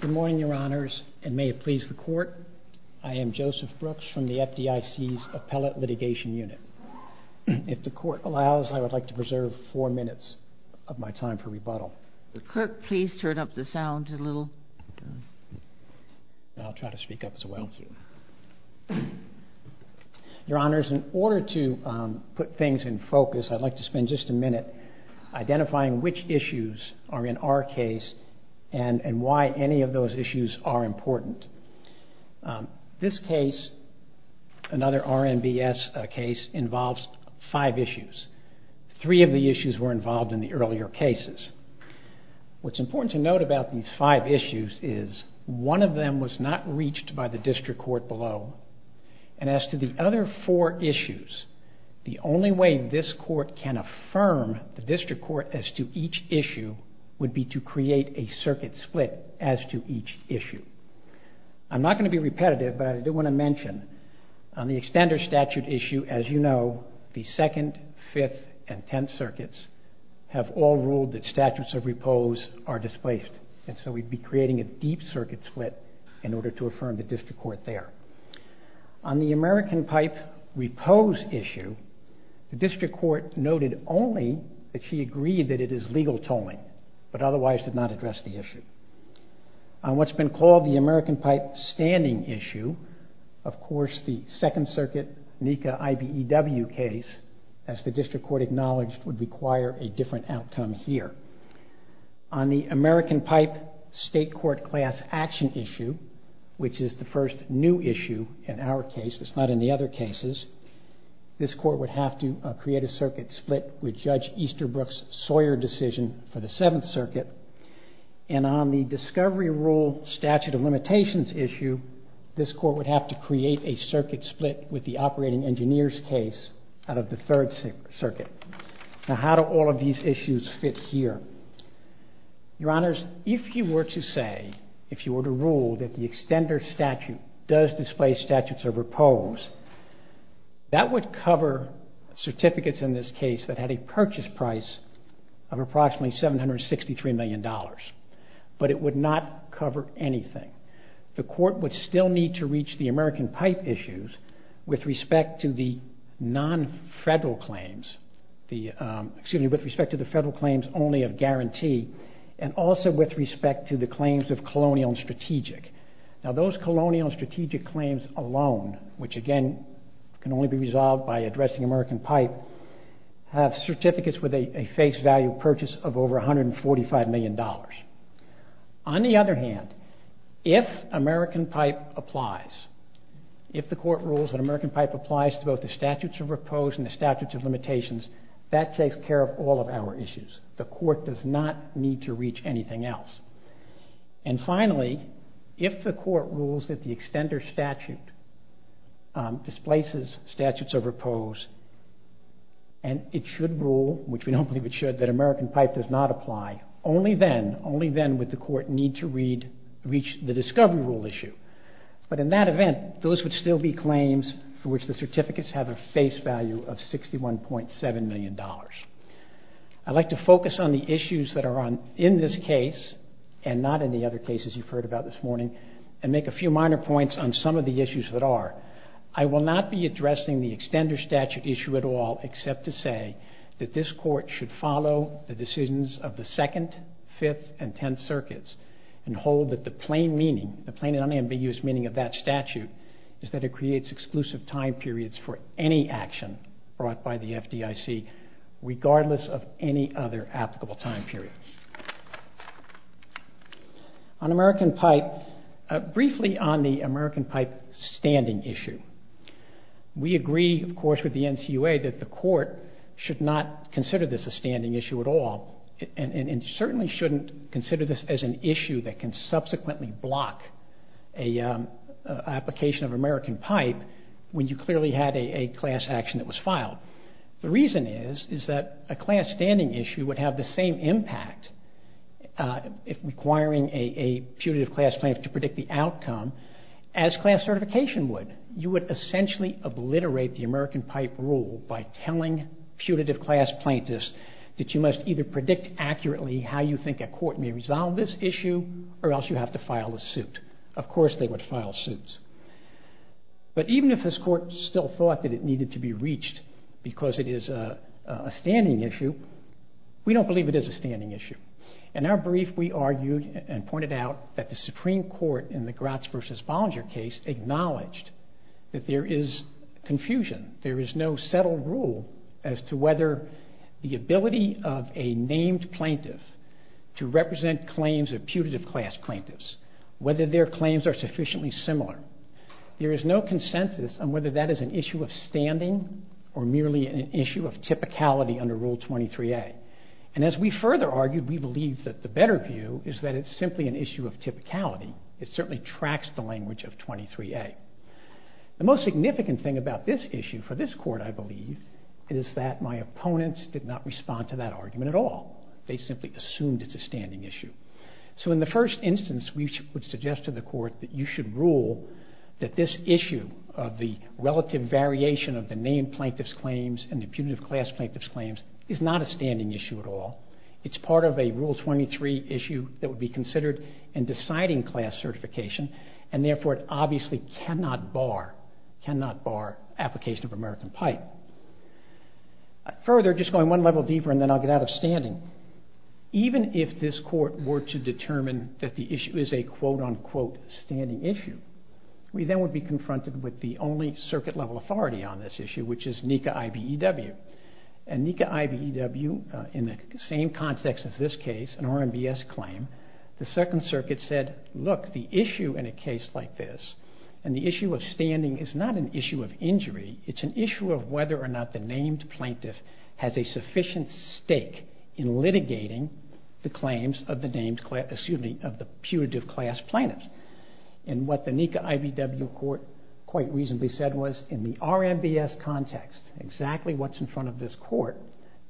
Good morning, Your Honors, and may it please the Court, I am Joseph Brooks from the FDIC's Appellate Litigation Unit. If the Court allows, I would like to preserve four minutes of my time for rebuttal. The Clerk, please turn up the sound a little. I'll try to speak up as well. Your Honors, in order to put things in focus, I'd like to spend just a minute identifying which issues are in our case and why any of those issues are important. This case, another RMBS case, involves five issues. Three of the issues were involved in the earlier cases. What's important to note about these five issues is one of them was not reached by the District Court below, and as to the other four issues, the only way this Court can affirm the District Court as to each issue would be to create a circuit split as to each issue. I'm not going to be repetitive, but I do want to mention, on the extender statute issue, as you know, the 2nd, 5th, and 10th circuits have all ruled that statutes of repose are displaced, and so we'd be creating a deep circuit split in order to affirm the District Court noted only that she agreed that it is legal tolling, but otherwise did not address the issue. On what's been called the American Pipe standing issue, of course the 2nd Circuit NECA IBEW case, as the District Court acknowledged, would require a different outcome here. On the American Pipe state court class action issue, which is the first new issue in our case, it's not in the other cases, this Court would have to create a circuit split with Judge Easterbrook's Sawyer decision for the 7th Circuit, and on the discovery rule statute of limitations issue, this Court would have to create a circuit split with the operating engineers case out of the 3rd Circuit. Now how do all of these issues fit here? Your Honors, if you were to say, if you were to rule that the extender statute does displace statutes of repose, that would cover certificates in this case that had a purchase price of approximately $763 million, but it would not cover anything. The Court would still need to reach the American Pipe issues with respect to the non-federal claims, excuse me, with respect to the federal claims only of guarantee, and also with respect to claims of colonial and strategic. Now those colonial and strategic claims alone, which again can only be resolved by addressing American Pipe, have certificates with a face value purchase of over $145 million. On the other hand, if American Pipe applies, if the Court rules that American Pipe applies to both the statutes of repose and the statutes of limitations, that takes care of all of our issues. The Court does not need to reach anything else. And finally, if the Court rules that the extender statute displaces statutes of repose and it should rule, which we don't believe it should, that American Pipe does not apply, only then, only then would the Court need to reach the discovery rule issue. But in that event, those would still be claims for which the certificates have a face value of $61.7 million. I'd like to focus on the issues that are in this case and not in the other cases you've heard about this morning and make a few minor points on some of the issues that are. I will not be addressing the extender statute issue at all except to say that this Court should follow the decisions of the Second, Fifth, and Tenth Circuits and hold that the plain meaning, meaning of that statute, is that it creates exclusive time periods for any action brought by the FDIC regardless of any other applicable time period. On American Pipe, briefly on the American Pipe standing issue, we agree, of course, with the NCUA that the Court should not consider this a standing issue at all and certainly shouldn't consider this as an issue that can subsequently block an application of American Pipe when you clearly had a class action that was filed. The reason is, is that a class standing issue would have the same impact, if requiring a putative class plaintiff to predict the outcome, as class certification would. You would essentially obliterate the American Pipe rule by telling putative class plaintiffs that you must either predict accurately how you think a court may resolve this issue or else you have to file a suit. Of course they would file suits. But even if this Court still thought that it needed to be reached because it is a standing issue, we don't believe it is a standing issue. In our brief, we argued and pointed out that the Supreme Court in the Gratz v. Bollinger case acknowledged that there is confusion. There is no settled rule as to whether the ability of a named plaintiff to represent claims of putative class plaintiffs, whether their claims are sufficiently similar. There is no consensus on whether that is an issue of standing or merely an issue of typicality under Rule 23a. And as we further argued, we believe that the better view is that it is simply an issue of typicality. It certainly tracks the language of 23a. The most significant thing about this issue for this Court, I believe, is that my opponents did not respond to that argument at all. They simply assumed it is a standing issue. So in the first instance, we would suggest to the Court that you should rule that this issue of the relative variation of the named plaintiffs' claims and the putative class plaintiffs' claims is not a that would be considered in deciding class certification, and therefore it obviously cannot bar application of American Pipe. Further, just going one level deeper, and then I'll get out of standing, even if this Court were to determine that the issue is a quote-unquote standing issue, we then would be confronted with the only circuit-level authority on this issue, which is in the same context as this case, an RMBS claim, the Second Circuit said, look, the issue in a case like this, and the issue of standing is not an issue of injury, it's an issue of whether or not the named plaintiff has a sufficient stake in litigating the claims of the putative class plaintiffs. And what the NECA-IBEW Court quite reasonably said was, in the RMBS context, exactly what's in front of this Court,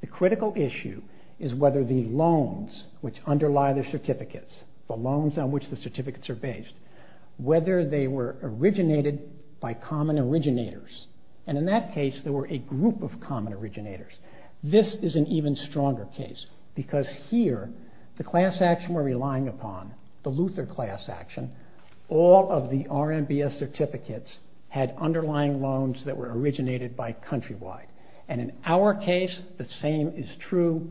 the critical issue is whether the loans which underlie the certificates, the loans on which the certificates are based, whether they were originated by common originators, and in that case there were a group of common originators. This is an even stronger case, because here, the class action we're relying upon, the Luther class action, all of the RMBS certificates had underlying loans that were originated by countrywide. And in our case, the same is true,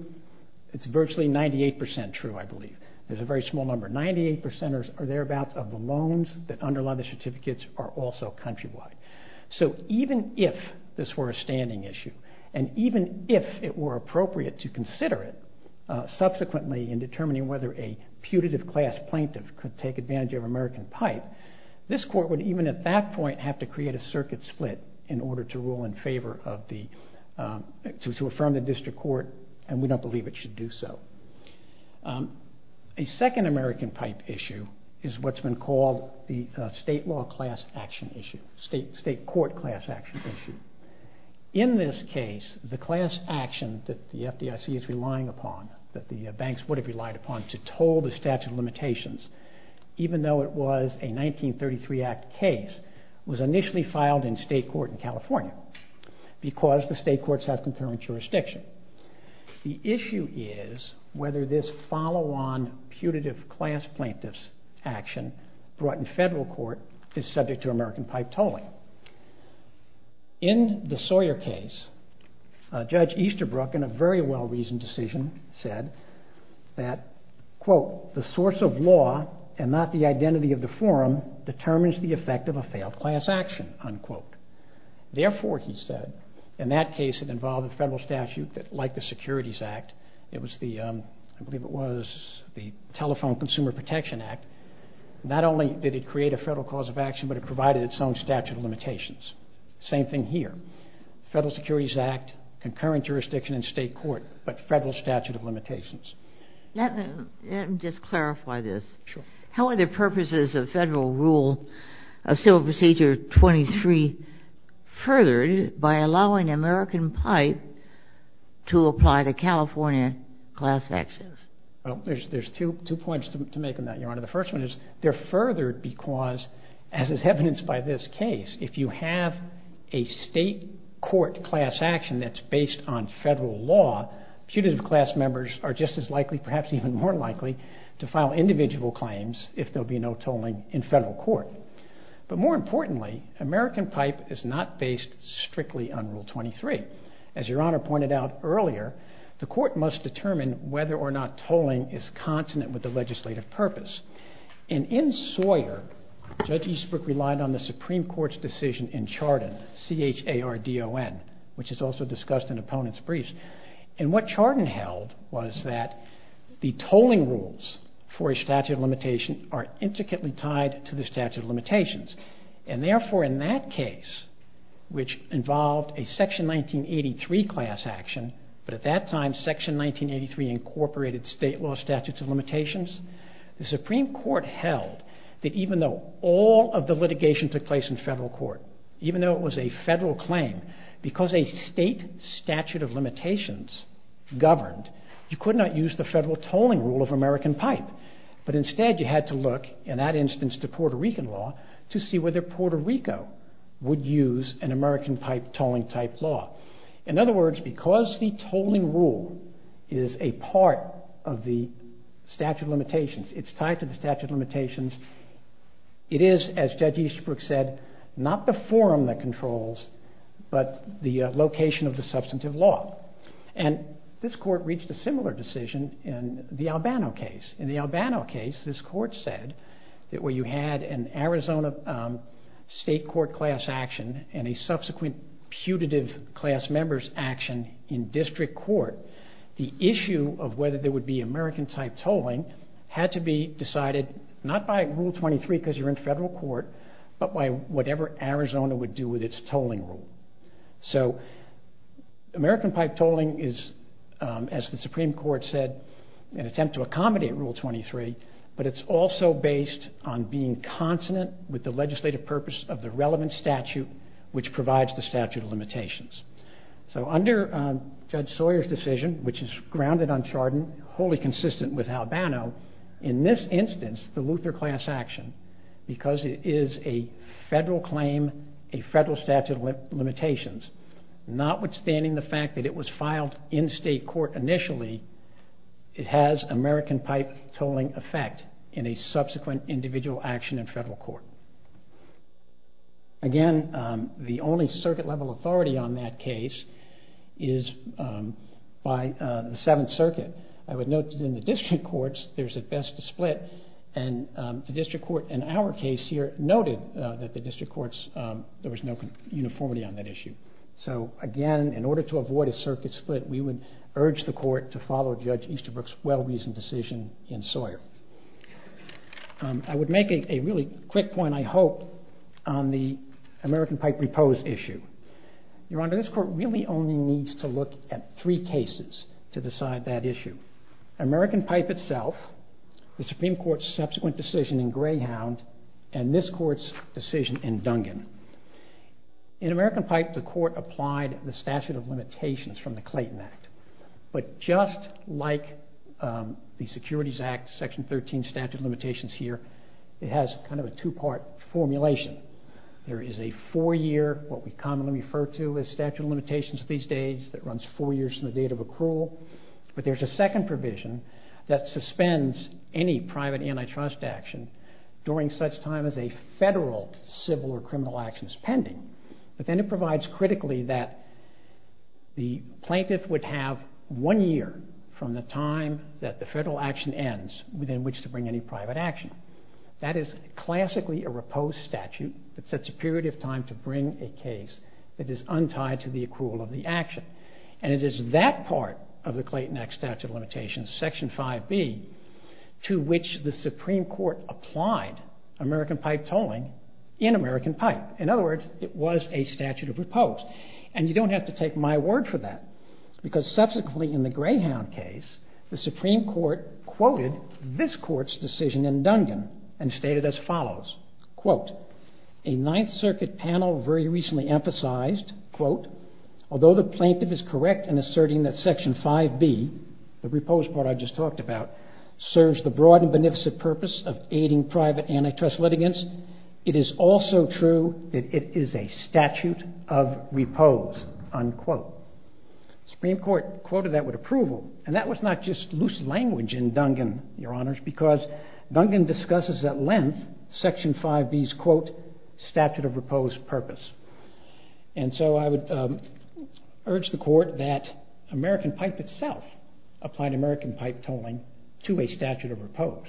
it's virtually 98% true, I believe, there's a very small number, 98% or thereabouts of the loans that underlie the certificates are also countrywide. So even if this were a standing issue, and even if it were appropriate to consider it, subsequently in determining whether a putative class plaintiff could take advantage of American pipe, this Court would even at that point have to create a circuit split in order to rule in order to affirm the district court, and we don't believe it should do so. A second American pipe issue is what's been called the state law class action issue, state court class action issue. In this case, the class action that the FDIC is relying upon, that the banks would have relied upon to toll the statute of limitations, even though it was a 1933 Act case, was initially filed in state court in California. Because the state courts have concurrent jurisdiction. The issue is whether this follow-on putative class plaintiff's action brought in federal court is subject to American pipe tolling. In the Sawyer case, Judge Easterbrook in a very well-reasoned decision said that, quote, the source of law and not the identity of the forum determines the effect of a failed class action, unquote. Therefore, he said, in that case it involved a federal statute that, like the Securities Act, it was the, I believe it was the Telephone Consumer Protection Act, not only did it create a federal cause of action, but it provided its own statute of limitations. Same thing here. Federal Securities Act, concurrent jurisdiction in state court, but federal statute of limitations. Let me just clarify this. Sure. How are the purposes of Federal Rule of Civil Procedure 23 furthered by allowing American pipe to apply to California class actions? Well, there's two points to make on that, Your Honor. The first one is they're furthered because, as is common federal law, putative class members are just as likely, perhaps even more likely, to file individual claims if there'll be no tolling in federal court. But more importantly, American pipe is not based strictly on Rule 23. As Your Honor pointed out earlier, the court must determine whether or not tolling is consonant with the legislative purpose. And in Sawyer, Judge Easterbrook relied on the Supreme Court's decision in Chardon, C-H-A-R-D-O-N, which is also discussed in opponents' briefs. And what Chardon held was that the tolling rules for a statute of limitation are intricately tied to the statute of limitations. And therefore, in that case, which involved a Section 1983 class action, but at that time Section 1983 incorporated state law statutes of limitations, the Supreme Court held that even though all of the litigation took place in federal court, even though it was a federal claim, because a state statute of limitations governed, you could not use the federal tolling rule of American pipe. But instead, you had to look, in that instance, to Puerto Rican law to see whether Puerto Rico would use an American pipe tolling type law. In other words, because the tolling rule is a part of the statute of limitations, it's tied to the statute of limitations, it is, as Judge Easterbrook said, not the forum that controls, but the location of the substantive law. And this court reached a similar decision in the Albano case. In the Albano case, this court said that where you had an Arizona state court class action and a subsequent putative class member's action in district court, the issue of whether there would be American type tolling had to be decided not by Rule 23 because you're in federal court, but by whatever Arizona would do with its tolling rule. So American pipe tolling is, as the Supreme Court said, an attempt to accommodate Rule 23, but it's also based on being consonant with the legislative purpose of the relevant statute, which provides the statute of limitations. So under Judge Sawyer's decision, which is grounded on the Luther class action, because it is a federal claim, a federal statute of limitations, notwithstanding the fact that it was filed in state court initially, it has American pipe tolling effect in a subsequent individual action in federal court. Again, the only circuit level authority on that case is by the Seventh Circuit. I would note that in the district courts, there's at best a split, and the district court in our case here noted that the district courts, there was no uniformity on that issue. So again, in order to avoid a circuit split, we would urge the court to follow Judge Easterbrook's well-reasoned decision in Sawyer. I would make a really quick point, I hope, on the issue. Your Honor, this court really only needs to look at three cases to decide that issue. American pipe itself, the Supreme Court's subsequent decision in Greyhound, and this court's decision in Dungan. In American pipe, the court applied the statute of limitations from the Clayton Act, but just like the Securities Act, Section 13 statute of limitations here, it has kind of a two-part formulation. There is a four-year, what we commonly refer to as statute of limitations these days, that runs four years from the date of accrual, but there's a second provision that suspends any private antitrust action during such time as a federal civil or criminal action is pending. But then it provides critically that the plaintiff would have one year from the time that the federal action ends within which to bring any private action. That is classically a reposed statute that sets a period of time to bring a case that is untied to the accrual of the action. And it is that part of the Clayton Act statute of limitations, Section 5B, to which the Supreme Court applied American pipe tolling in American pipe. In other words, it was a statute of repose. And you don't have to take my word for that, because subsequently in the Greyhound case, the Supreme Court quoted this court's decision in Dungan and stated as follows, quote, a Ninth Circuit panel very recently emphasized, quote, although the plaintiff is correct in asserting that Section 5B, the repose part I just talked about, serves the broad and beneficent purpose of aiding private antitrust litigants, it is also true that it is a statute of repose, unquote. Supreme Court quoted that with approval, and that was not just loose language in Dungan, Your Honors, because Dungan discusses at length Section 5B's, quote, statute of repose purpose. And so I would urge the court that American pipe itself applied American pipe tolling to a statute of repose.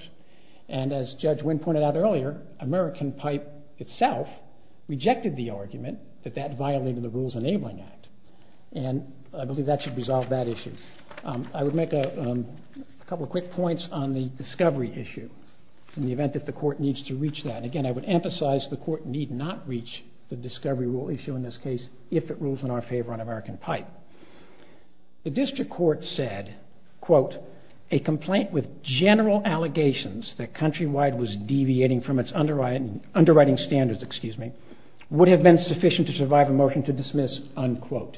And as Judge Wynn pointed out earlier, American pipe itself rejected the argument that that violated the Rules Enabling Act. And I should resolve that issue. I would make a couple of quick points on the discovery issue in the event that the court needs to reach that. Again, I would emphasize the court need not reach the discovery rule issue in this case if it rules in our favor on American pipe. The district court said, quote, a complaint with general allegations that Countrywide was deviating from its underwriting standards, excuse me, would have been sufficient to survive a dismiss, unquote.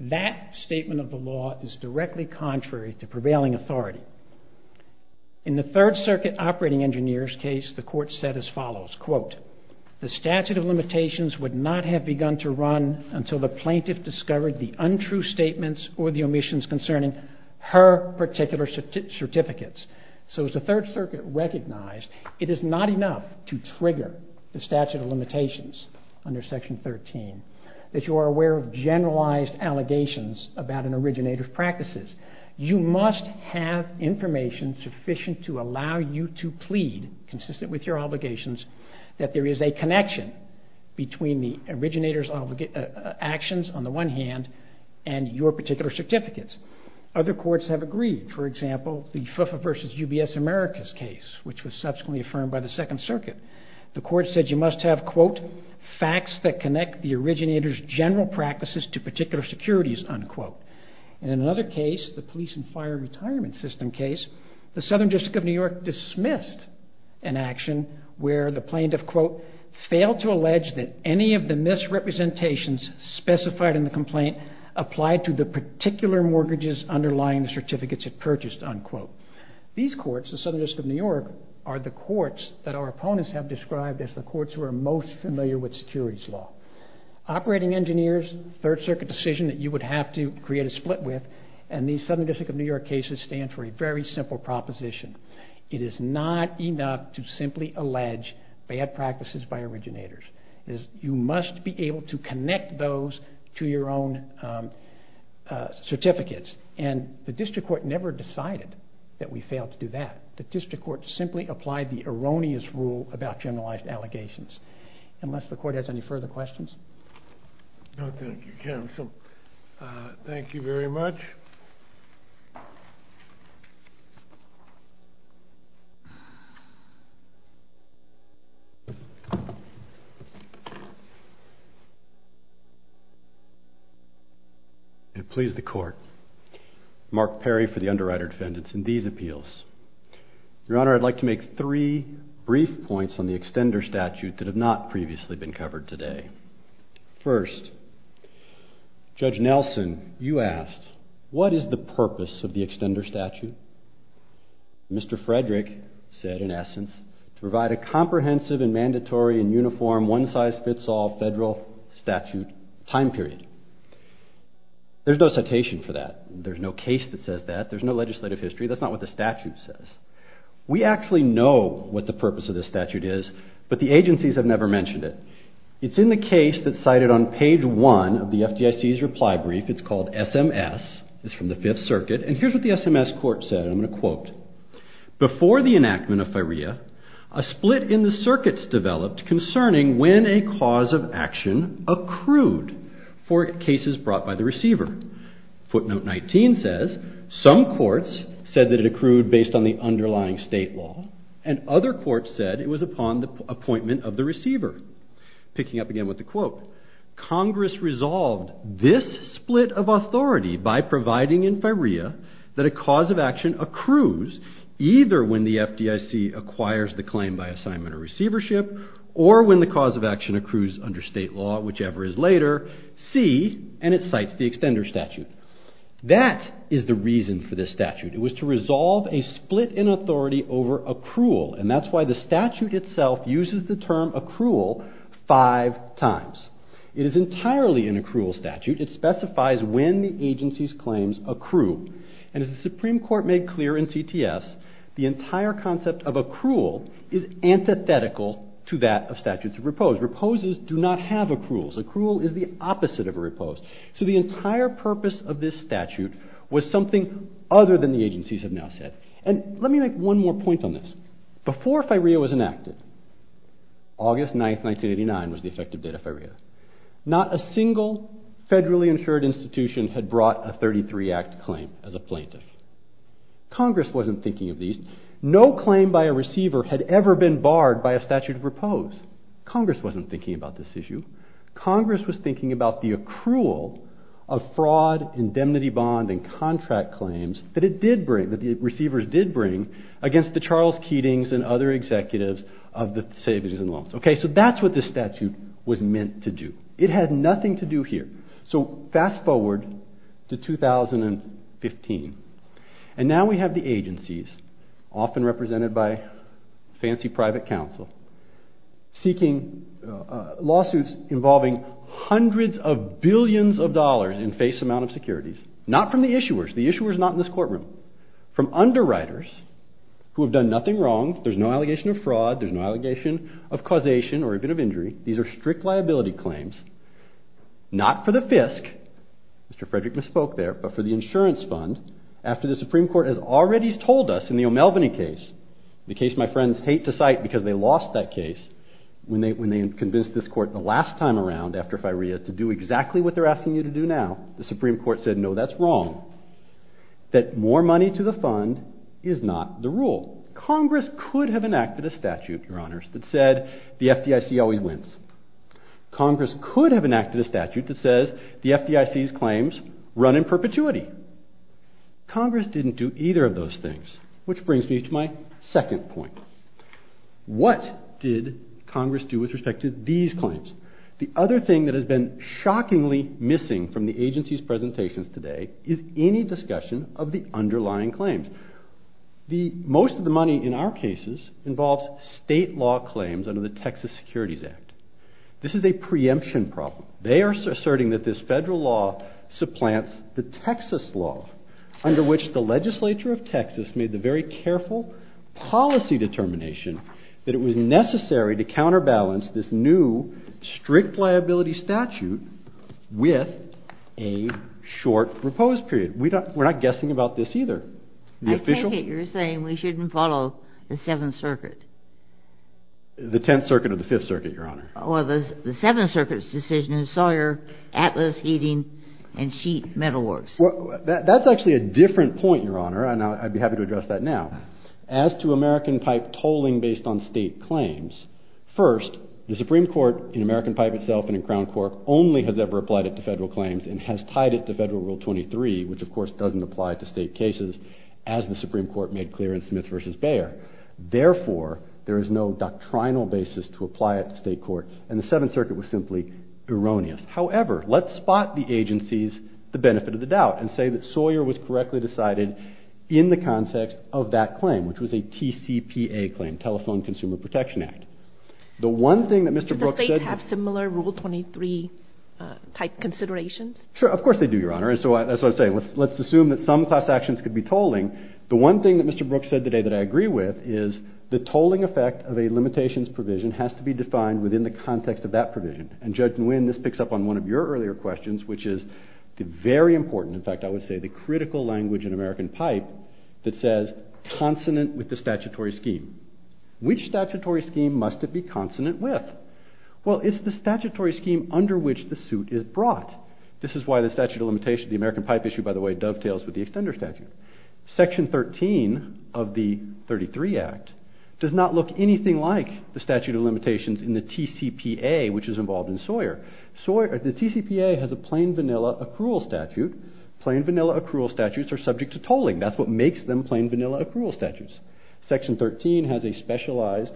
That statement of the law is directly contrary to prevailing authority. In the Third Circuit operating engineer's case, the court said as follows, quote, the statute of limitations would not have begun to run until the plaintiff discovered the untrue statements or the omissions concerning her particular certificates. So as the Third Circuit recognized, it is not enough to trigger the statute of limitations under Section 13 that you are aware of generalized allegations about an originator's practices. You must have information sufficient to allow you to plead, consistent with your obligations, that there is a connection between the originator's actions on the one hand and your particular certificates. Other courts have agreed. For example, the FIFA versus UBS Americas case, which was subsequently affirmed by the Second Circuit. The court said you must have, quote, facts that connect the originator's general practices to particular securities, unquote. In another case, the police and fire retirement system case, the Southern District of New York dismissed an action where the plaintiff, quote, failed to allege that any of the misrepresentations specified in the complaint applied to the particular mortgages underlying the certificates it purchased, unquote. These courts, the Southern District of New York, are the courts that our opponents have described as the courts who are most familiar with securities law. Operating engineers, Third Circuit decision that you would have to create a split with, and the Southern District of New York cases stand for a very simple proposition. It is not enough to simply allege bad practices by originators. You must be able to connect those to your own certificates. And the District Court never decided that we failed to do that. The District Court simply applied the erroneous rule about generalized allegations. Unless the court has any further questions? No, thank you, counsel. Thank you very much. I please the court. Mark Perry for the underwriter defendants in these appeals. Your Honor, I'd like to make three brief points on the extender statute that have not extended statute. Mr. Frederick said, in essence, to provide a comprehensive and mandatory and uniform one-size-fits-all federal statute time period. There's no citation for that. There's no case that says that. There's no legislative history. That's not what the statute says. We actually know what the purpose of this statute is, but the agencies have never mentioned it. It's in the case that's cited on page one of the FDIC's reply brief. It's called SMS. It's from the Fifth Circuit. And here's what the SMS court said. I'm going to quote. Before the enactment of FIREA, a split in the circuits developed concerning when a cause of action accrued for cases brought by the receiver. Footnote 19 says, some courts said that it accrued based on the underlying state law, and other courts said it was upon the appointment of the receiver. Picking up again with the quote, Congress resolved this split of authority by providing in FIREA that a cause of action accrues either when the FDIC acquires the claim by assignment or receivership, or when the cause of action accrues under state law, whichever is later, see, and it cites the extender statute. That is the reason for this statute. It was to resolve a split in authority over accrual, and that's why the statute itself uses the term accrual five times. It is entirely an accrual statute. It is when the agency's claims accrue. And as the Supreme Court made clear in CTS, the entire concept of accrual is antithetical to that of statutes of repose. Reposes do not have accruals. Accrual is the opposite of a repose. So the entire purpose of this statute was something other than the agencies have now said. And let me make one more point on this. Before FIREA was enacted, August 9, 1989 was the effective date of FIREA, not a single federally insured institution had brought a 33-act claim as a plaintiff. Congress wasn't thinking of these. No claim by a receiver had ever been barred by a statute of repose. Congress wasn't thinking about this issue. Congress was thinking about the accrual of fraud, indemnity bond, and contract claims that it did bring, that the receivers did bring against the Charles Keatings and other executives of the Savings and Loans. Okay, so that's what this statute was meant to do. It had nothing to do here. So fast forward to 2015. And now we have the agencies, often represented by fancy private counsel, seeking lawsuits involving hundreds of billions of dollars in face amount of securities, not from the issuers, the issuers not in this injury. These are strict liability claims, not for the FISC, Mr. Frederick misspoke there, but for the insurance fund after the Supreme Court has already told us in the O'Melveny case, the case my friends hate to cite because they lost that case, when they convinced this court the last time around after FIREA to do exactly what they're asking you to do now, the Supreme Court said no, that's wrong, that more money to the fund is not the wins. Congress could have enacted a statute that says the FDIC's claims run in perpetuity. Congress didn't do either of those things, which brings me to my second point. What did Congress do with respect to these claims? The other thing that has been shockingly missing from the agency's This is a preemption problem. They are asserting that this federal law supplants the Texas law, under which the legislature of Texas made the very careful policy determination that it was necessary to counterbalance this new strict liability statute with a short proposed period. We're not guessing about this either. I take it you're saying we shouldn't follow the 7th Circuit? The 10th Circuit or the 5th Circuit, Your Honor. Or the 7th Circuit's decision in Sawyer, Atlas, Heating, and Sheet Metal Works. That's actually a different point, Your Honor, and I'd be happy to address that now. As to American Pipe tolling based on state claims, first, the Supreme Court in American as the Supreme Court made clear in Smith v. Bayer. Therefore, there is no doctrinal basis to apply it to state court, and the 7th Circuit was simply erroneous. However, let's spot the agency's benefit of the doubt and say that Sawyer was correctly decided in the context of that claim, which was a TCPA claim, Telephone Consumer Protection Act. Do the states have similar Rule 23 type considerations? Sure, of course they do, Your Honor, and so let's assume that some class actions could be tolling. The one thing that Mr. Brooks said today that I agree with is the tolling effect of a limitations provision has to be defined within the context of that provision. And Judge Nguyen, this picks up on one of your earlier questions, which is the very important, in fact, I would say the critical language in American Pipe that says consonant with the statutory scheme. Which statutory scheme must it be consonant with? Well, it's the statutory scheme under which the suit is brought. This is why the statute of limitations, the American Pipe issue, by the way, dovetails with the extender statute. Section 13 of the 33 Act does not look anything like the statute of limitations in the TCPA, which is involved in Sawyer. The TCPA has a plain vanilla accrual statute. Plain vanilla accrual statutes are subject to tolling. That's what makes them plain vanilla accrual statutes. Section 13 has a specialized,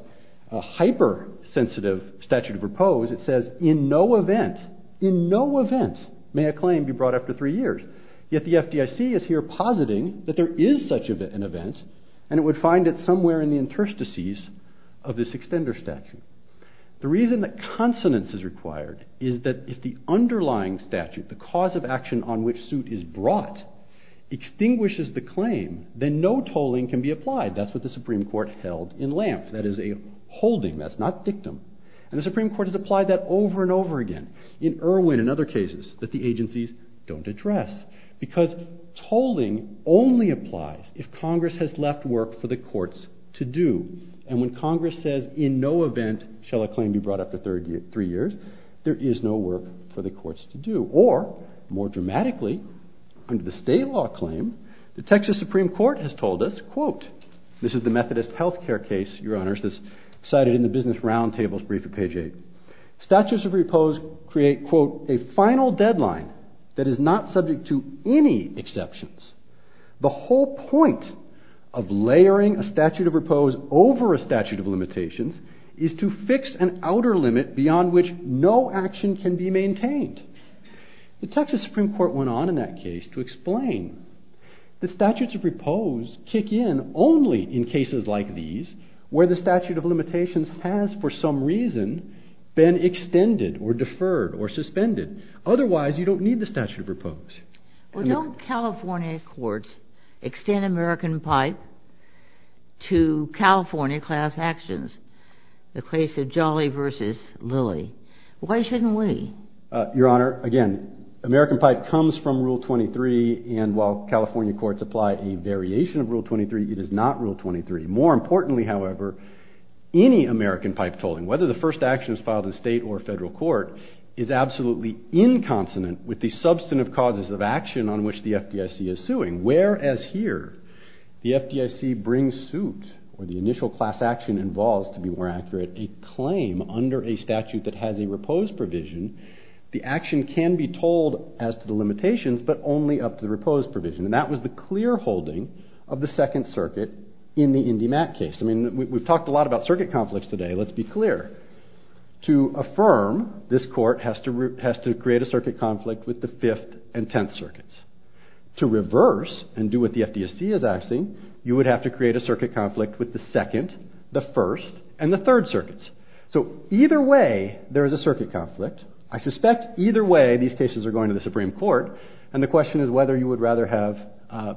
hypersensitive statute of repose. It says in no event, in no event may a claim be brought after three years. Yet the FDIC is here positing that there is such an event and it would find it somewhere in the interstices of this extender statute. The reason that consonance is required is that if the underlying statute, the cause of action on which suit is brought, extinguishes the claim, then no tolling can be applied. That's what the Supreme Court held in Lampf. That is a holding. That's not dictum. And the Supreme Court has applied that over and over again. In Irwin and other cases that the agencies don't address because tolling only applies if Congress has left work for the courts to do. And when Congress says in no event shall a claim be brought after three years, there is no work for the courts to do. Or, more dramatically, under the state law claim, the Texas Supreme Court has told us, quote, this is the Methodist health care case, your honors, that's cited in the business round tables brief at page 8. Statutes of repose create, quote, a final deadline that is not subject to any exceptions. The whole point of layering a statute of repose over a statute of limitations is to fix an outer limit beyond which no action can be maintained. The Texas Supreme Court went on in that case to explain that statutes of repose kick in only in cases like these where the statute of limitations has, for some reason, been extended or deferred or suspended. Otherwise, you don't need the statute of repose. Well, don't California courts extend American Pipe to California class actions, the case of Jolly versus Lilly? Why shouldn't we? Your honor, again, American Pipe comes from Rule 23, and while California courts apply a variation of Rule 23, it is not Rule 23. More importantly, however, any American Pipe tolling, whether the first action is filed in state or federal court, is absolutely inconsonant with the substantive causes of action on which the FDIC is suing. Whereas here, the FDIC brings suit, or the initial class action involves, to be more accurate, a claim under a statute that has a repose provision, the action can be told as to the limitations, but only up to the repose provision. And that was the clear holding of the Second Circuit in the IndyMac case. I mean, we've talked a lot about circuit conflicts today. Let's be clear. To affirm, this court has to create a circuit conflict with the Fifth and Tenth Circuits. To reverse and do what the FDIC is asking, you would have to create a circuit conflict with the Second, the First, and the Third Circuits. So either way, there is a circuit conflict. I suspect either way, these cases are going to the Supreme Court, and the question is whether you would rather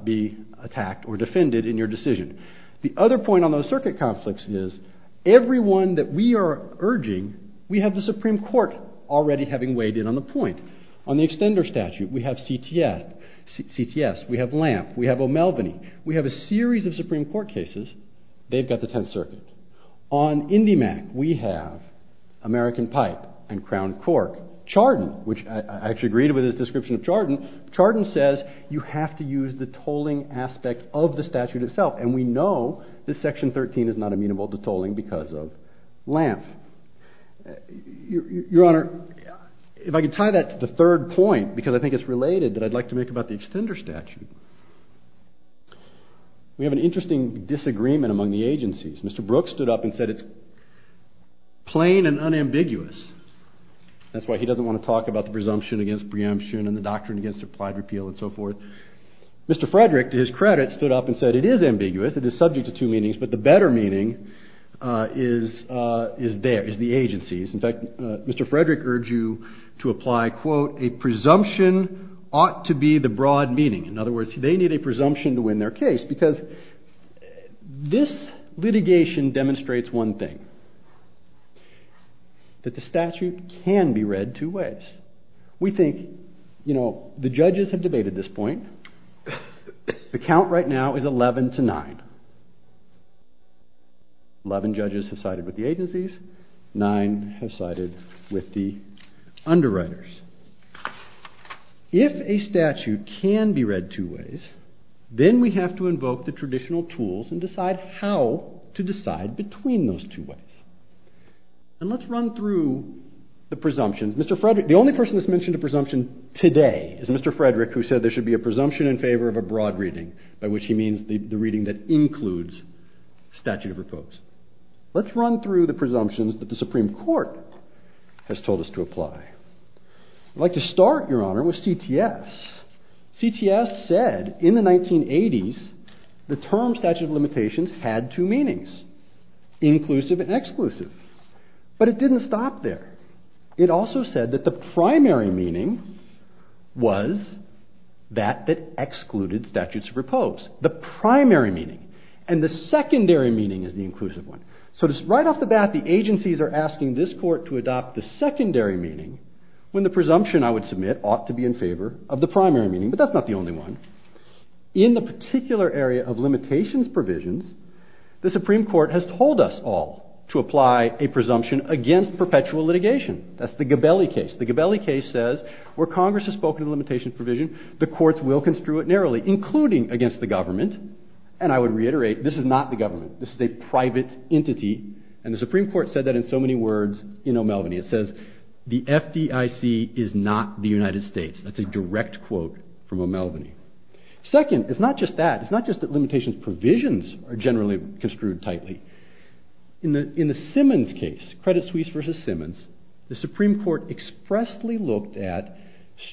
be attacked or defended in your decision. The other point on those circuit conflicts is, every one that we are urging, we have the Supreme Court already having weighed in on the point. On the extender statute, we have CTS, we have Lamp, we have O'Melveny, we have a series of Supreme Court cases, they've got the Tenth Circuit. On IndyMac, we have American Pipe and Crown Cork. Chardon, which I actually agreed with his description of Chardon. Chardon says you have to use the tolling aspect of the statute itself, and we know that Section 13 is not amenable to tolling because of Lamp. Your Honor, if I could tie that to the third point, because I think it's related that I'd like to make about the extender statute. We have an interesting disagreement among the agencies. Mr. Brooks stood up and said it's plain and unambiguous. That's why he doesn't want to talk about the presumption against preemption and the doctrine against applied repeal and so forth. Mr. Frederick, to his credit, stood up and said it is ambiguous, it is subject to two meanings, but the better meaning is there, is the agencies. In fact, Mr. Frederick urged you to apply, quote, a presumption ought to be the broad meaning. In other words, they need a presumption to win their case because this litigation demonstrates one thing, that the statute can be read two ways. We think, you know, the judges have debated this point. The count right now is 11 to 9. Eleven judges have sided with the agencies. Nine have sided with the underwriters. If a statute can be read two ways, then we have to invoke the traditional tools and decide how to decide between those two ways. Mr. Frederick, the only person that's mentioned a presumption today is Mr. Frederick who said there should be a presumption in favor of a broad reading, by which he means the reading that includes statute of repose. Let's run through the presumptions that the Supreme Court has told us to apply. I'd like to start, Your Honor, with CTS. CTS said in the 1980s the term statute of limitations had two meanings, inclusive and exclusive. But it didn't stop there. It also said that the primary meaning was that that excluded statute of repose. The primary meaning. And the secondary meaning is the inclusive one. So just right off the bat, the agencies are asking this court to adopt the secondary meaning when the presumption I would submit ought to be in favor of the primary meaning. But that's not the only one. In the particular area of limitations provisions, the Supreme Court has told us all to apply a presumption against perpetual litigation. That's the Gabelli case. The Gabelli case says where Congress has spoken of limitations provision, the courts will construe it narrowly, including against the government. And I would reiterate, this is not the government. This is a private entity. And the Supreme Court said that in so many words in O'Melveny. It says, the FDIC is not the United States. That's a direct quote from O'Melveny. Second, it's not just that. It's not just that limitations provisions are generally construed tightly. In the Simmons case, Credit Suisse v. Simmons, the Supreme Court expressly looked at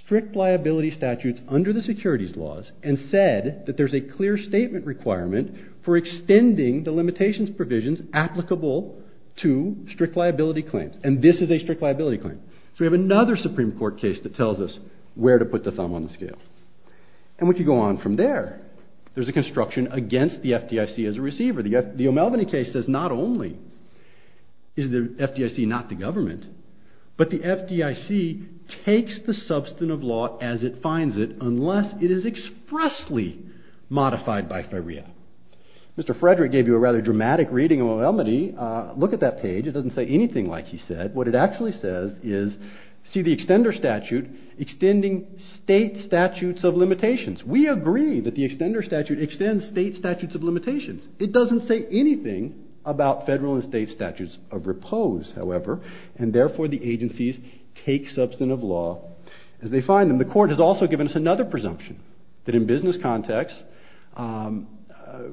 strict liability statutes under the securities laws and said that there's a clear statement requirement for extending the limitations provisions applicable to strict liability claims. And this is a strict liability claim. So we have another Supreme Court case that tells us where to put the thumb on the scale. And we can go on from there. There's a construction against the FDIC as a receiver. The O'Melveny case says not only is the FDIC not the government, but the FDIC takes the substantive law as it finds it unless it is expressly modified by FIREA. Mr. Frederick gave you a rather dramatic reading of O'Melveny. Look at that page. It doesn't say anything like he said. What it actually says is see the extender statute extending state statutes of limitations. We agree that the extender statute extends state statutes of limitations. It doesn't say anything about federal and state statutes of repose, however, and therefore the agencies take substantive law as they find them. The court has also given us another presumption that in business context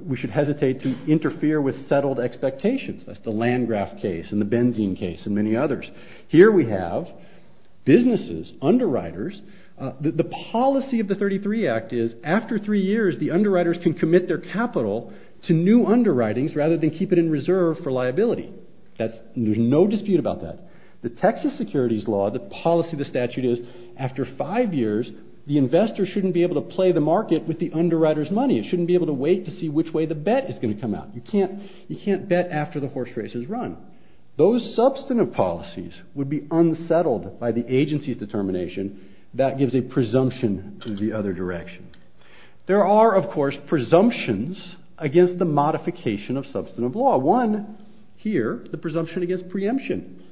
we should hesitate to interfere with settled expectations. That's the Landgraf case and the Benzene case and many others. Here we have businesses, underwriters. The policy of the 33 Act is after three years the underwriters can commit their capital to new underwritings rather than keep it in reserve for liability. There's no dispute about that. The Texas Securities Law, the policy of the statute is after five years the investor shouldn't be able to play the market with the underwriter's money. It shouldn't be able to wait to see which way the bet is going to come out. You can't bet after the horse race has run. Those substantive policies would be unsettled by the agency's determination. That gives a presumption to the other direction. There are, of course, presumptions against the modification of substantive law. One here, the presumption against preemption.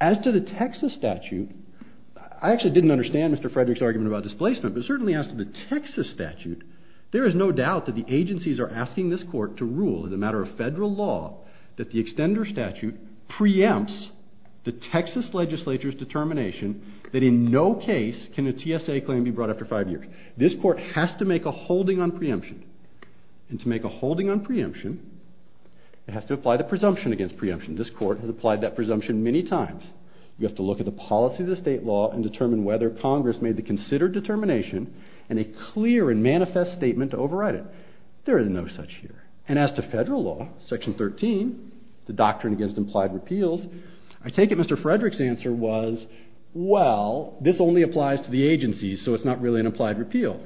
As to the Texas statute, I actually didn't understand Mr. Frederick's argument about displacement, but certainly as to the Texas statute, there is no doubt that the agencies are asking this court to rule as a matter of federal law that the extender statute preempts the Texas legislature's determination that in no case can a TSA claim be brought after five years. This court has to make a holding on preemption. And to make a holding on preemption, it has to apply the presumption against preemption. This court has applied that presumption many times. We have to look at the policy of the state law and determine whether Congress made the considered determination and a clear and manifest statement to override it. There is no such here. And as to federal law, section 13, the doctrine against implied repeals, I take it Mr. Frederick's answer was, well, this only applies to the agencies, so it's not really an implied repeal.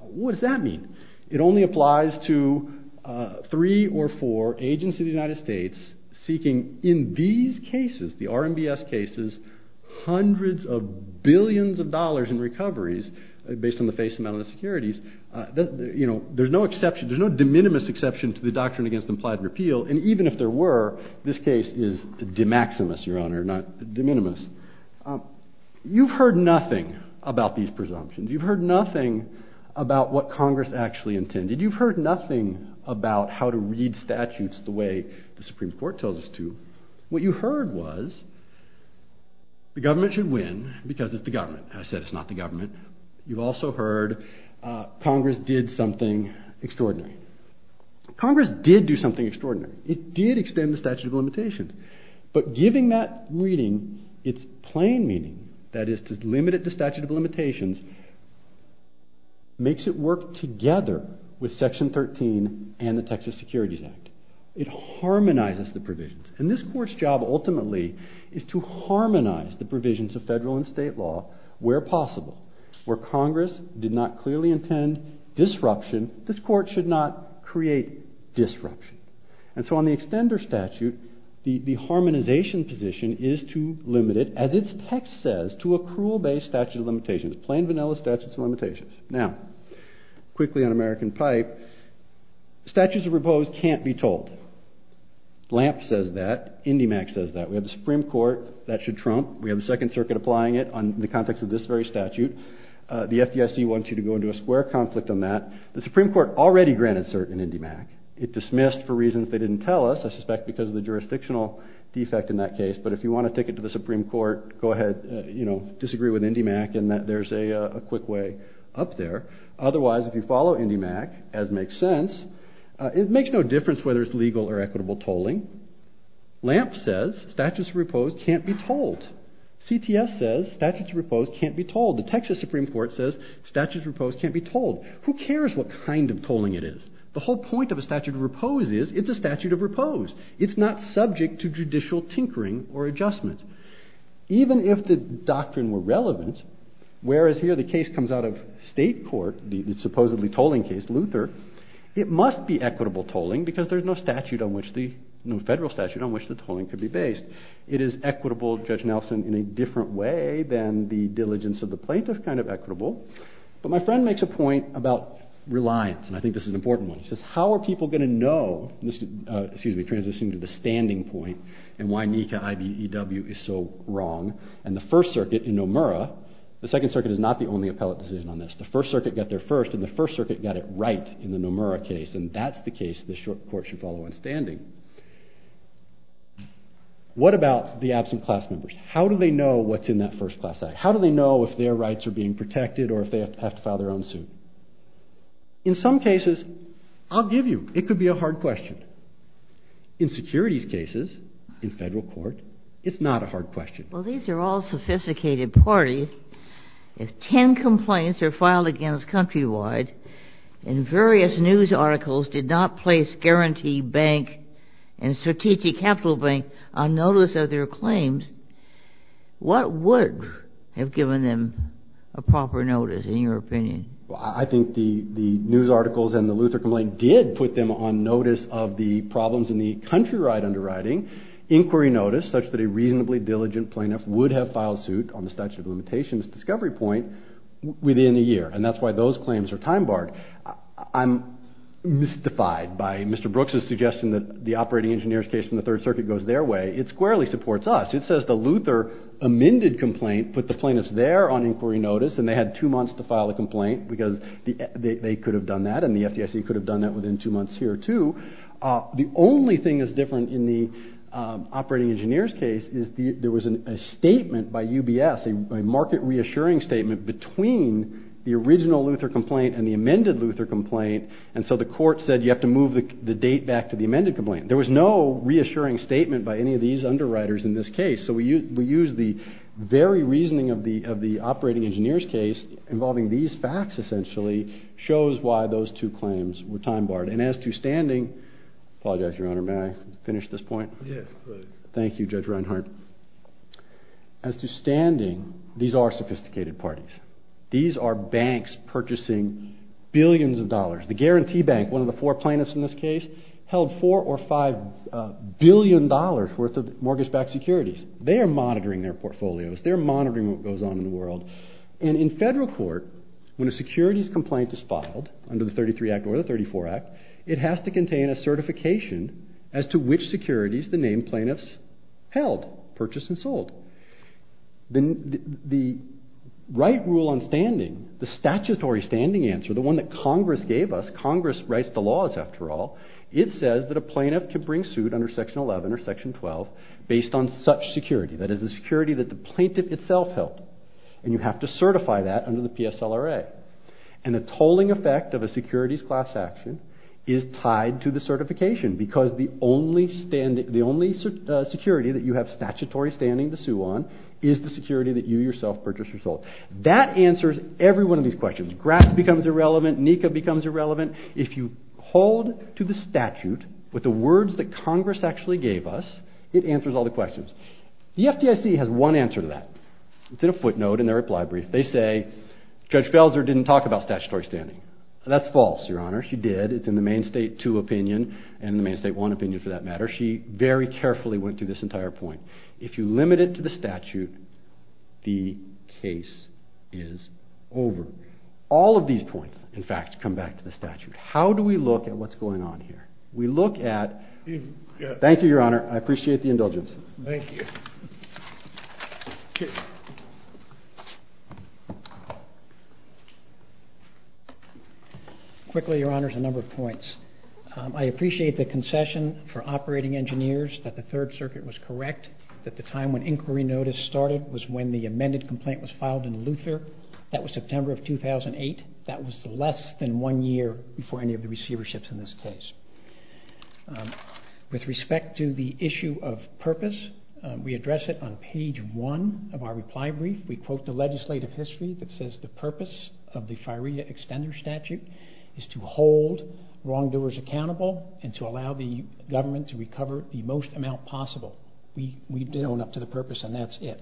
What does that mean? It only applies to three or four agencies in the United States seeking in these cases, the RMBS cases, hundreds of billions of dollars in recoveries based on the face amount of the securities. There's no exception. There's no de minimis exception to the doctrine against implied repeal. And even if there were, this case is de maximis, Your Honor, not de minimis. You've heard nothing about these presumptions. You've heard nothing about what Congress actually intended. You've heard nothing about how to read statutes the way the Supreme Court tells us to. What you heard was the government should win because it's the government. I said it's not the government. You've also heard Congress did something extraordinary. Congress did do something extraordinary. It did extend the statute of limitations. But giving that reading its plain meaning, that is to limit it to statute of limitations, makes it work together with Section 13 and the Texas Securities Act. It harmonizes the provisions. And this court's job ultimately is to harmonize the provisions of federal and state law where possible. Where Congress did not clearly intend disruption, this court should not create disruption. And so on the extender statute, the harmonization position is to limit it, as its text says, to a cruel base statute of limitations, plain vanilla statute of limitations. Now, quickly on American Pipe, statutes of repose can't be told. LAMP says that. INDIMAC says that. We have the Supreme Court. That should trump. We have the Second Circuit applying it on the context of this very statute. The FDIC wants you to go into a square conflict on that. The Supreme Court already granted cert in INDIMAC. It dismissed for reasons they didn't tell us, I suspect because of the jurisdictional defect in that case. But if you want a ticket to the Supreme Court, go ahead, you know, disagree with INDIMAC and there's a quick way up there. Otherwise, if you follow INDIMAC, as makes sense, it makes no difference whether it's legal or equitable tolling. LAMP says statutes of repose can't be told. CTS says statutes of repose can't be told. The Texas Supreme Court says statutes of repose can't be told. Who cares what kind of tolling it is? The whole point of a statute of repose is it's a statute of repose. It's not subject to judicial tinkering or adjustment. Even if the doctrine were relevant, whereas here the case comes out of state court, the supposedly tolling case, Luther, it must be equitable tolling because there's no statute on which the, no federal statute on which the tolling could be based. It is equitable, Judge Nelson, in a different way than the diligence of the plaintiff kind of equitable. But my friend makes a point about reliance and I think this is an important one. He says how are people going to know, excuse me, transitioning to the standing point and why NECA IBEW is so wrong and the First Circuit in Nomura, the Second Circuit is not the only appellate decision on this. The First Circuit got there first and the First Circuit got it right in the Nomura case and that's the case the court should follow in standing. What about the absent class members? How do they know what's in that First Class Act? How do they know if their rights are being protected or if they have to file their own suit? In some cases, I'll give you, it could be a hard question. In securities cases, in federal court, it's not a hard question. Well, these are all sophisticated parties. If 10 complaints are filed against Countrywide and various news articles did not place Guarantee Bank and Strategic Capital Bank on notice of their claims, what would have given them a proper notice in your opinion? Well, I think the news articles and the Luther complaint did put them on notice of the problems in the Countrywide underwriting inquiry notice such that a reasonably diligent plaintiff would have filed suit on the statute of limitations discovery point within a year. And that's why those claims are time barred. I'm mystified by Mr. Brooks' suggestion that the Operating Engineers case from the Third Circuit goes their way. It squarely supports us. It says the Luther amended complaint put the plaintiffs there on inquiry notice and they had two months to file a complaint because they could have done that and the FDIC could have done that within two months here too. The only thing that's different in the Operating Engineers case is there was a statement by UBS, a market reassuring statement between the original Luther complaint and the amended Luther complaint and so the court said you have to move the date back to the amended complaint. There was no reassuring statement by any of these underwriters in this case. So we use the very reasoning of the Operating Engineers case involving these facts essentially shows why those two claims were time barred. And as to standing, I apologize, Your Honor, may I finish this point? Yes, please. Thank you, Judge Reinhart. As to standing, these are sophisticated parties. These are banks purchasing billions of dollars. The Guarantee Bank, one of the four plaintiffs in this case, held $4 or $5 billion worth of mortgage-backed securities. They are monitoring their portfolios. They are monitoring what goes on in the world. And in federal court, when a securities complaint is filed under the 33 Act or the 34 Act, it has to contain a certification as to which securities the named plaintiffs held, purchased and sold. The right rule on standing, the statutory standing answer, the one that Congress gave us, Congress writes the laws after all, it says that a plaintiff can bring suit under Section 11 or Section 12 based on such security, that is the security that the plaintiff itself held. And you have to certify that under the PSLRA. And the tolling effect of a securities class action is tied to the certification because the only security that you have statutory standing to sue on is the security that you yourself purchased or sold. That answers every one of these questions. Grass becomes irrelevant. NECA becomes irrelevant. If you hold to the statute with the words that Congress actually gave us, it answers all the questions. The FDIC has one answer to that. It's in a footnote in their reply brief. They say Judge Felser didn't talk about statutory standing. That's false, Your Honor. She did. It's in the Main State 2 opinion and the Main State 1 opinion for that matter. She very carefully went through this entire point. If you limit it to the statute, the case is over. All of these points, in fact, come back to the statute. How do we look at what's going on here? We look at... Thank you, Your Honor. I appreciate the indulgence. Thank you. Quickly, Your Honor, a number of points. I appreciate the concession for operating engineers that the Third Circuit was correct that the time when inquiry notice started was when the amended complaint was filed in Luther. That was September of 2008. That was less than one year before any of the receiverships in this case. With respect to the issue of purpose, we address it on page 1 of our reply brief. We quote the legislative history that says the purpose of the firea extender statute is to hold wrongdoers accountable and to allow the government to recover the most amount possible. We own up to the purpose and that's it.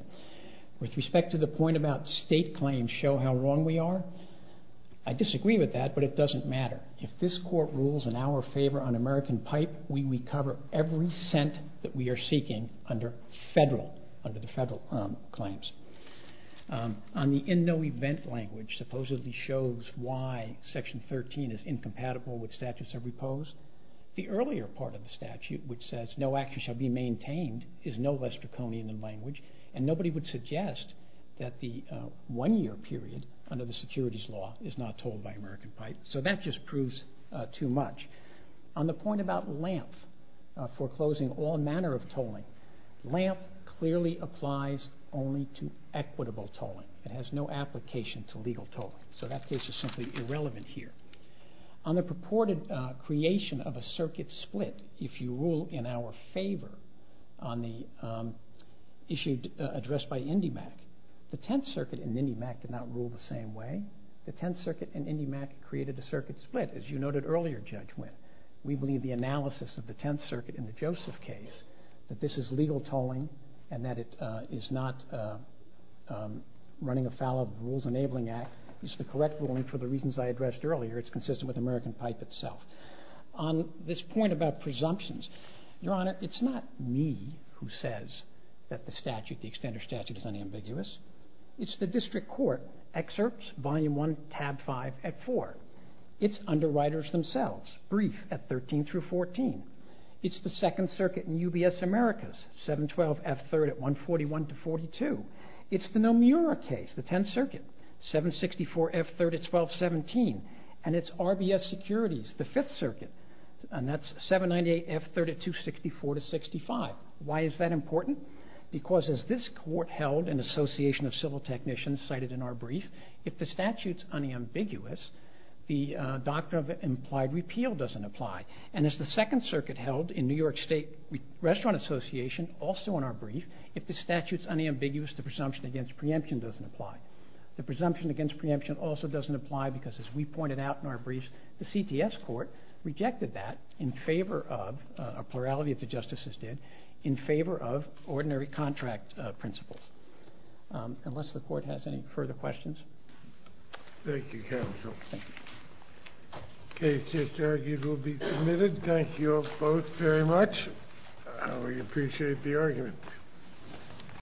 With respect to the point about state claims show how wrong we are, I disagree with that, but it doesn't matter. If this court rules in our favor on American Pipe, we recover every cent that we are seeking under the federal claims. On the in no event language supposedly shows why Section 13 is incompatible with statutes of repose, the earlier part of the statute which says no action shall be maintained is no less draconian in language and nobody would suggest that the one-year period under the securities law is not told by American Pipe. So that just proves too much. On the point about LAMP foreclosing all manner of tolling, LAMP clearly applies only to equitable tolling. It has no application to legal tolling. So that case is simply irrelevant here. On the purported creation of a circuit split, if you rule in our favor on the issue addressed by INDIMAC, the Tenth Circuit and INDIMAC did not rule the same way. The Tenth Circuit and INDIMAC created a circuit split, as you noted earlier, Judge Winn. We believe the analysis of the Tenth Circuit in the Joseph case, that this is legal tolling and that it is not running afoul of the Rules Enabling Act, is the correct ruling for the reasons I addressed earlier. It's consistent with American Pipe itself. On this point about presumptions, Your Honor, it's not me who says that the statute, the extender statute, is unambiguous. It's the District Court, Excerpts, Volume 1, Tab 5 at 4. It's underwriters themselves, brief at 13 through 14. It's the Second Circuit in UBS Americas, 712 F3rd at 141 to 42. It's the Nomura case, the Tenth Circuit, 764 F3rd at 1217. And it's RBS Securities, the Fifth Circuit, and that's 798 F3rd at 264 to 65. Why is that important? Because as this Court held in Association of Civil Technicians, cited in our brief, if the statute's unambiguous, the doctrine of implied repeal doesn't apply. And as the Second Circuit held in New York State Restaurant Association, also in our brief, if the statute's unambiguous, the presumption against preemption doesn't apply. The presumption against preemption also doesn't apply because, as we pointed out in our brief, the CTS Court rejected that in favor of, a plurality of the justices did, in favor of ordinary contract principles. Unless the Court has any further questions. Thank you, counsel. The case just argued will be submitted. Thank you both very much. We appreciate the argument.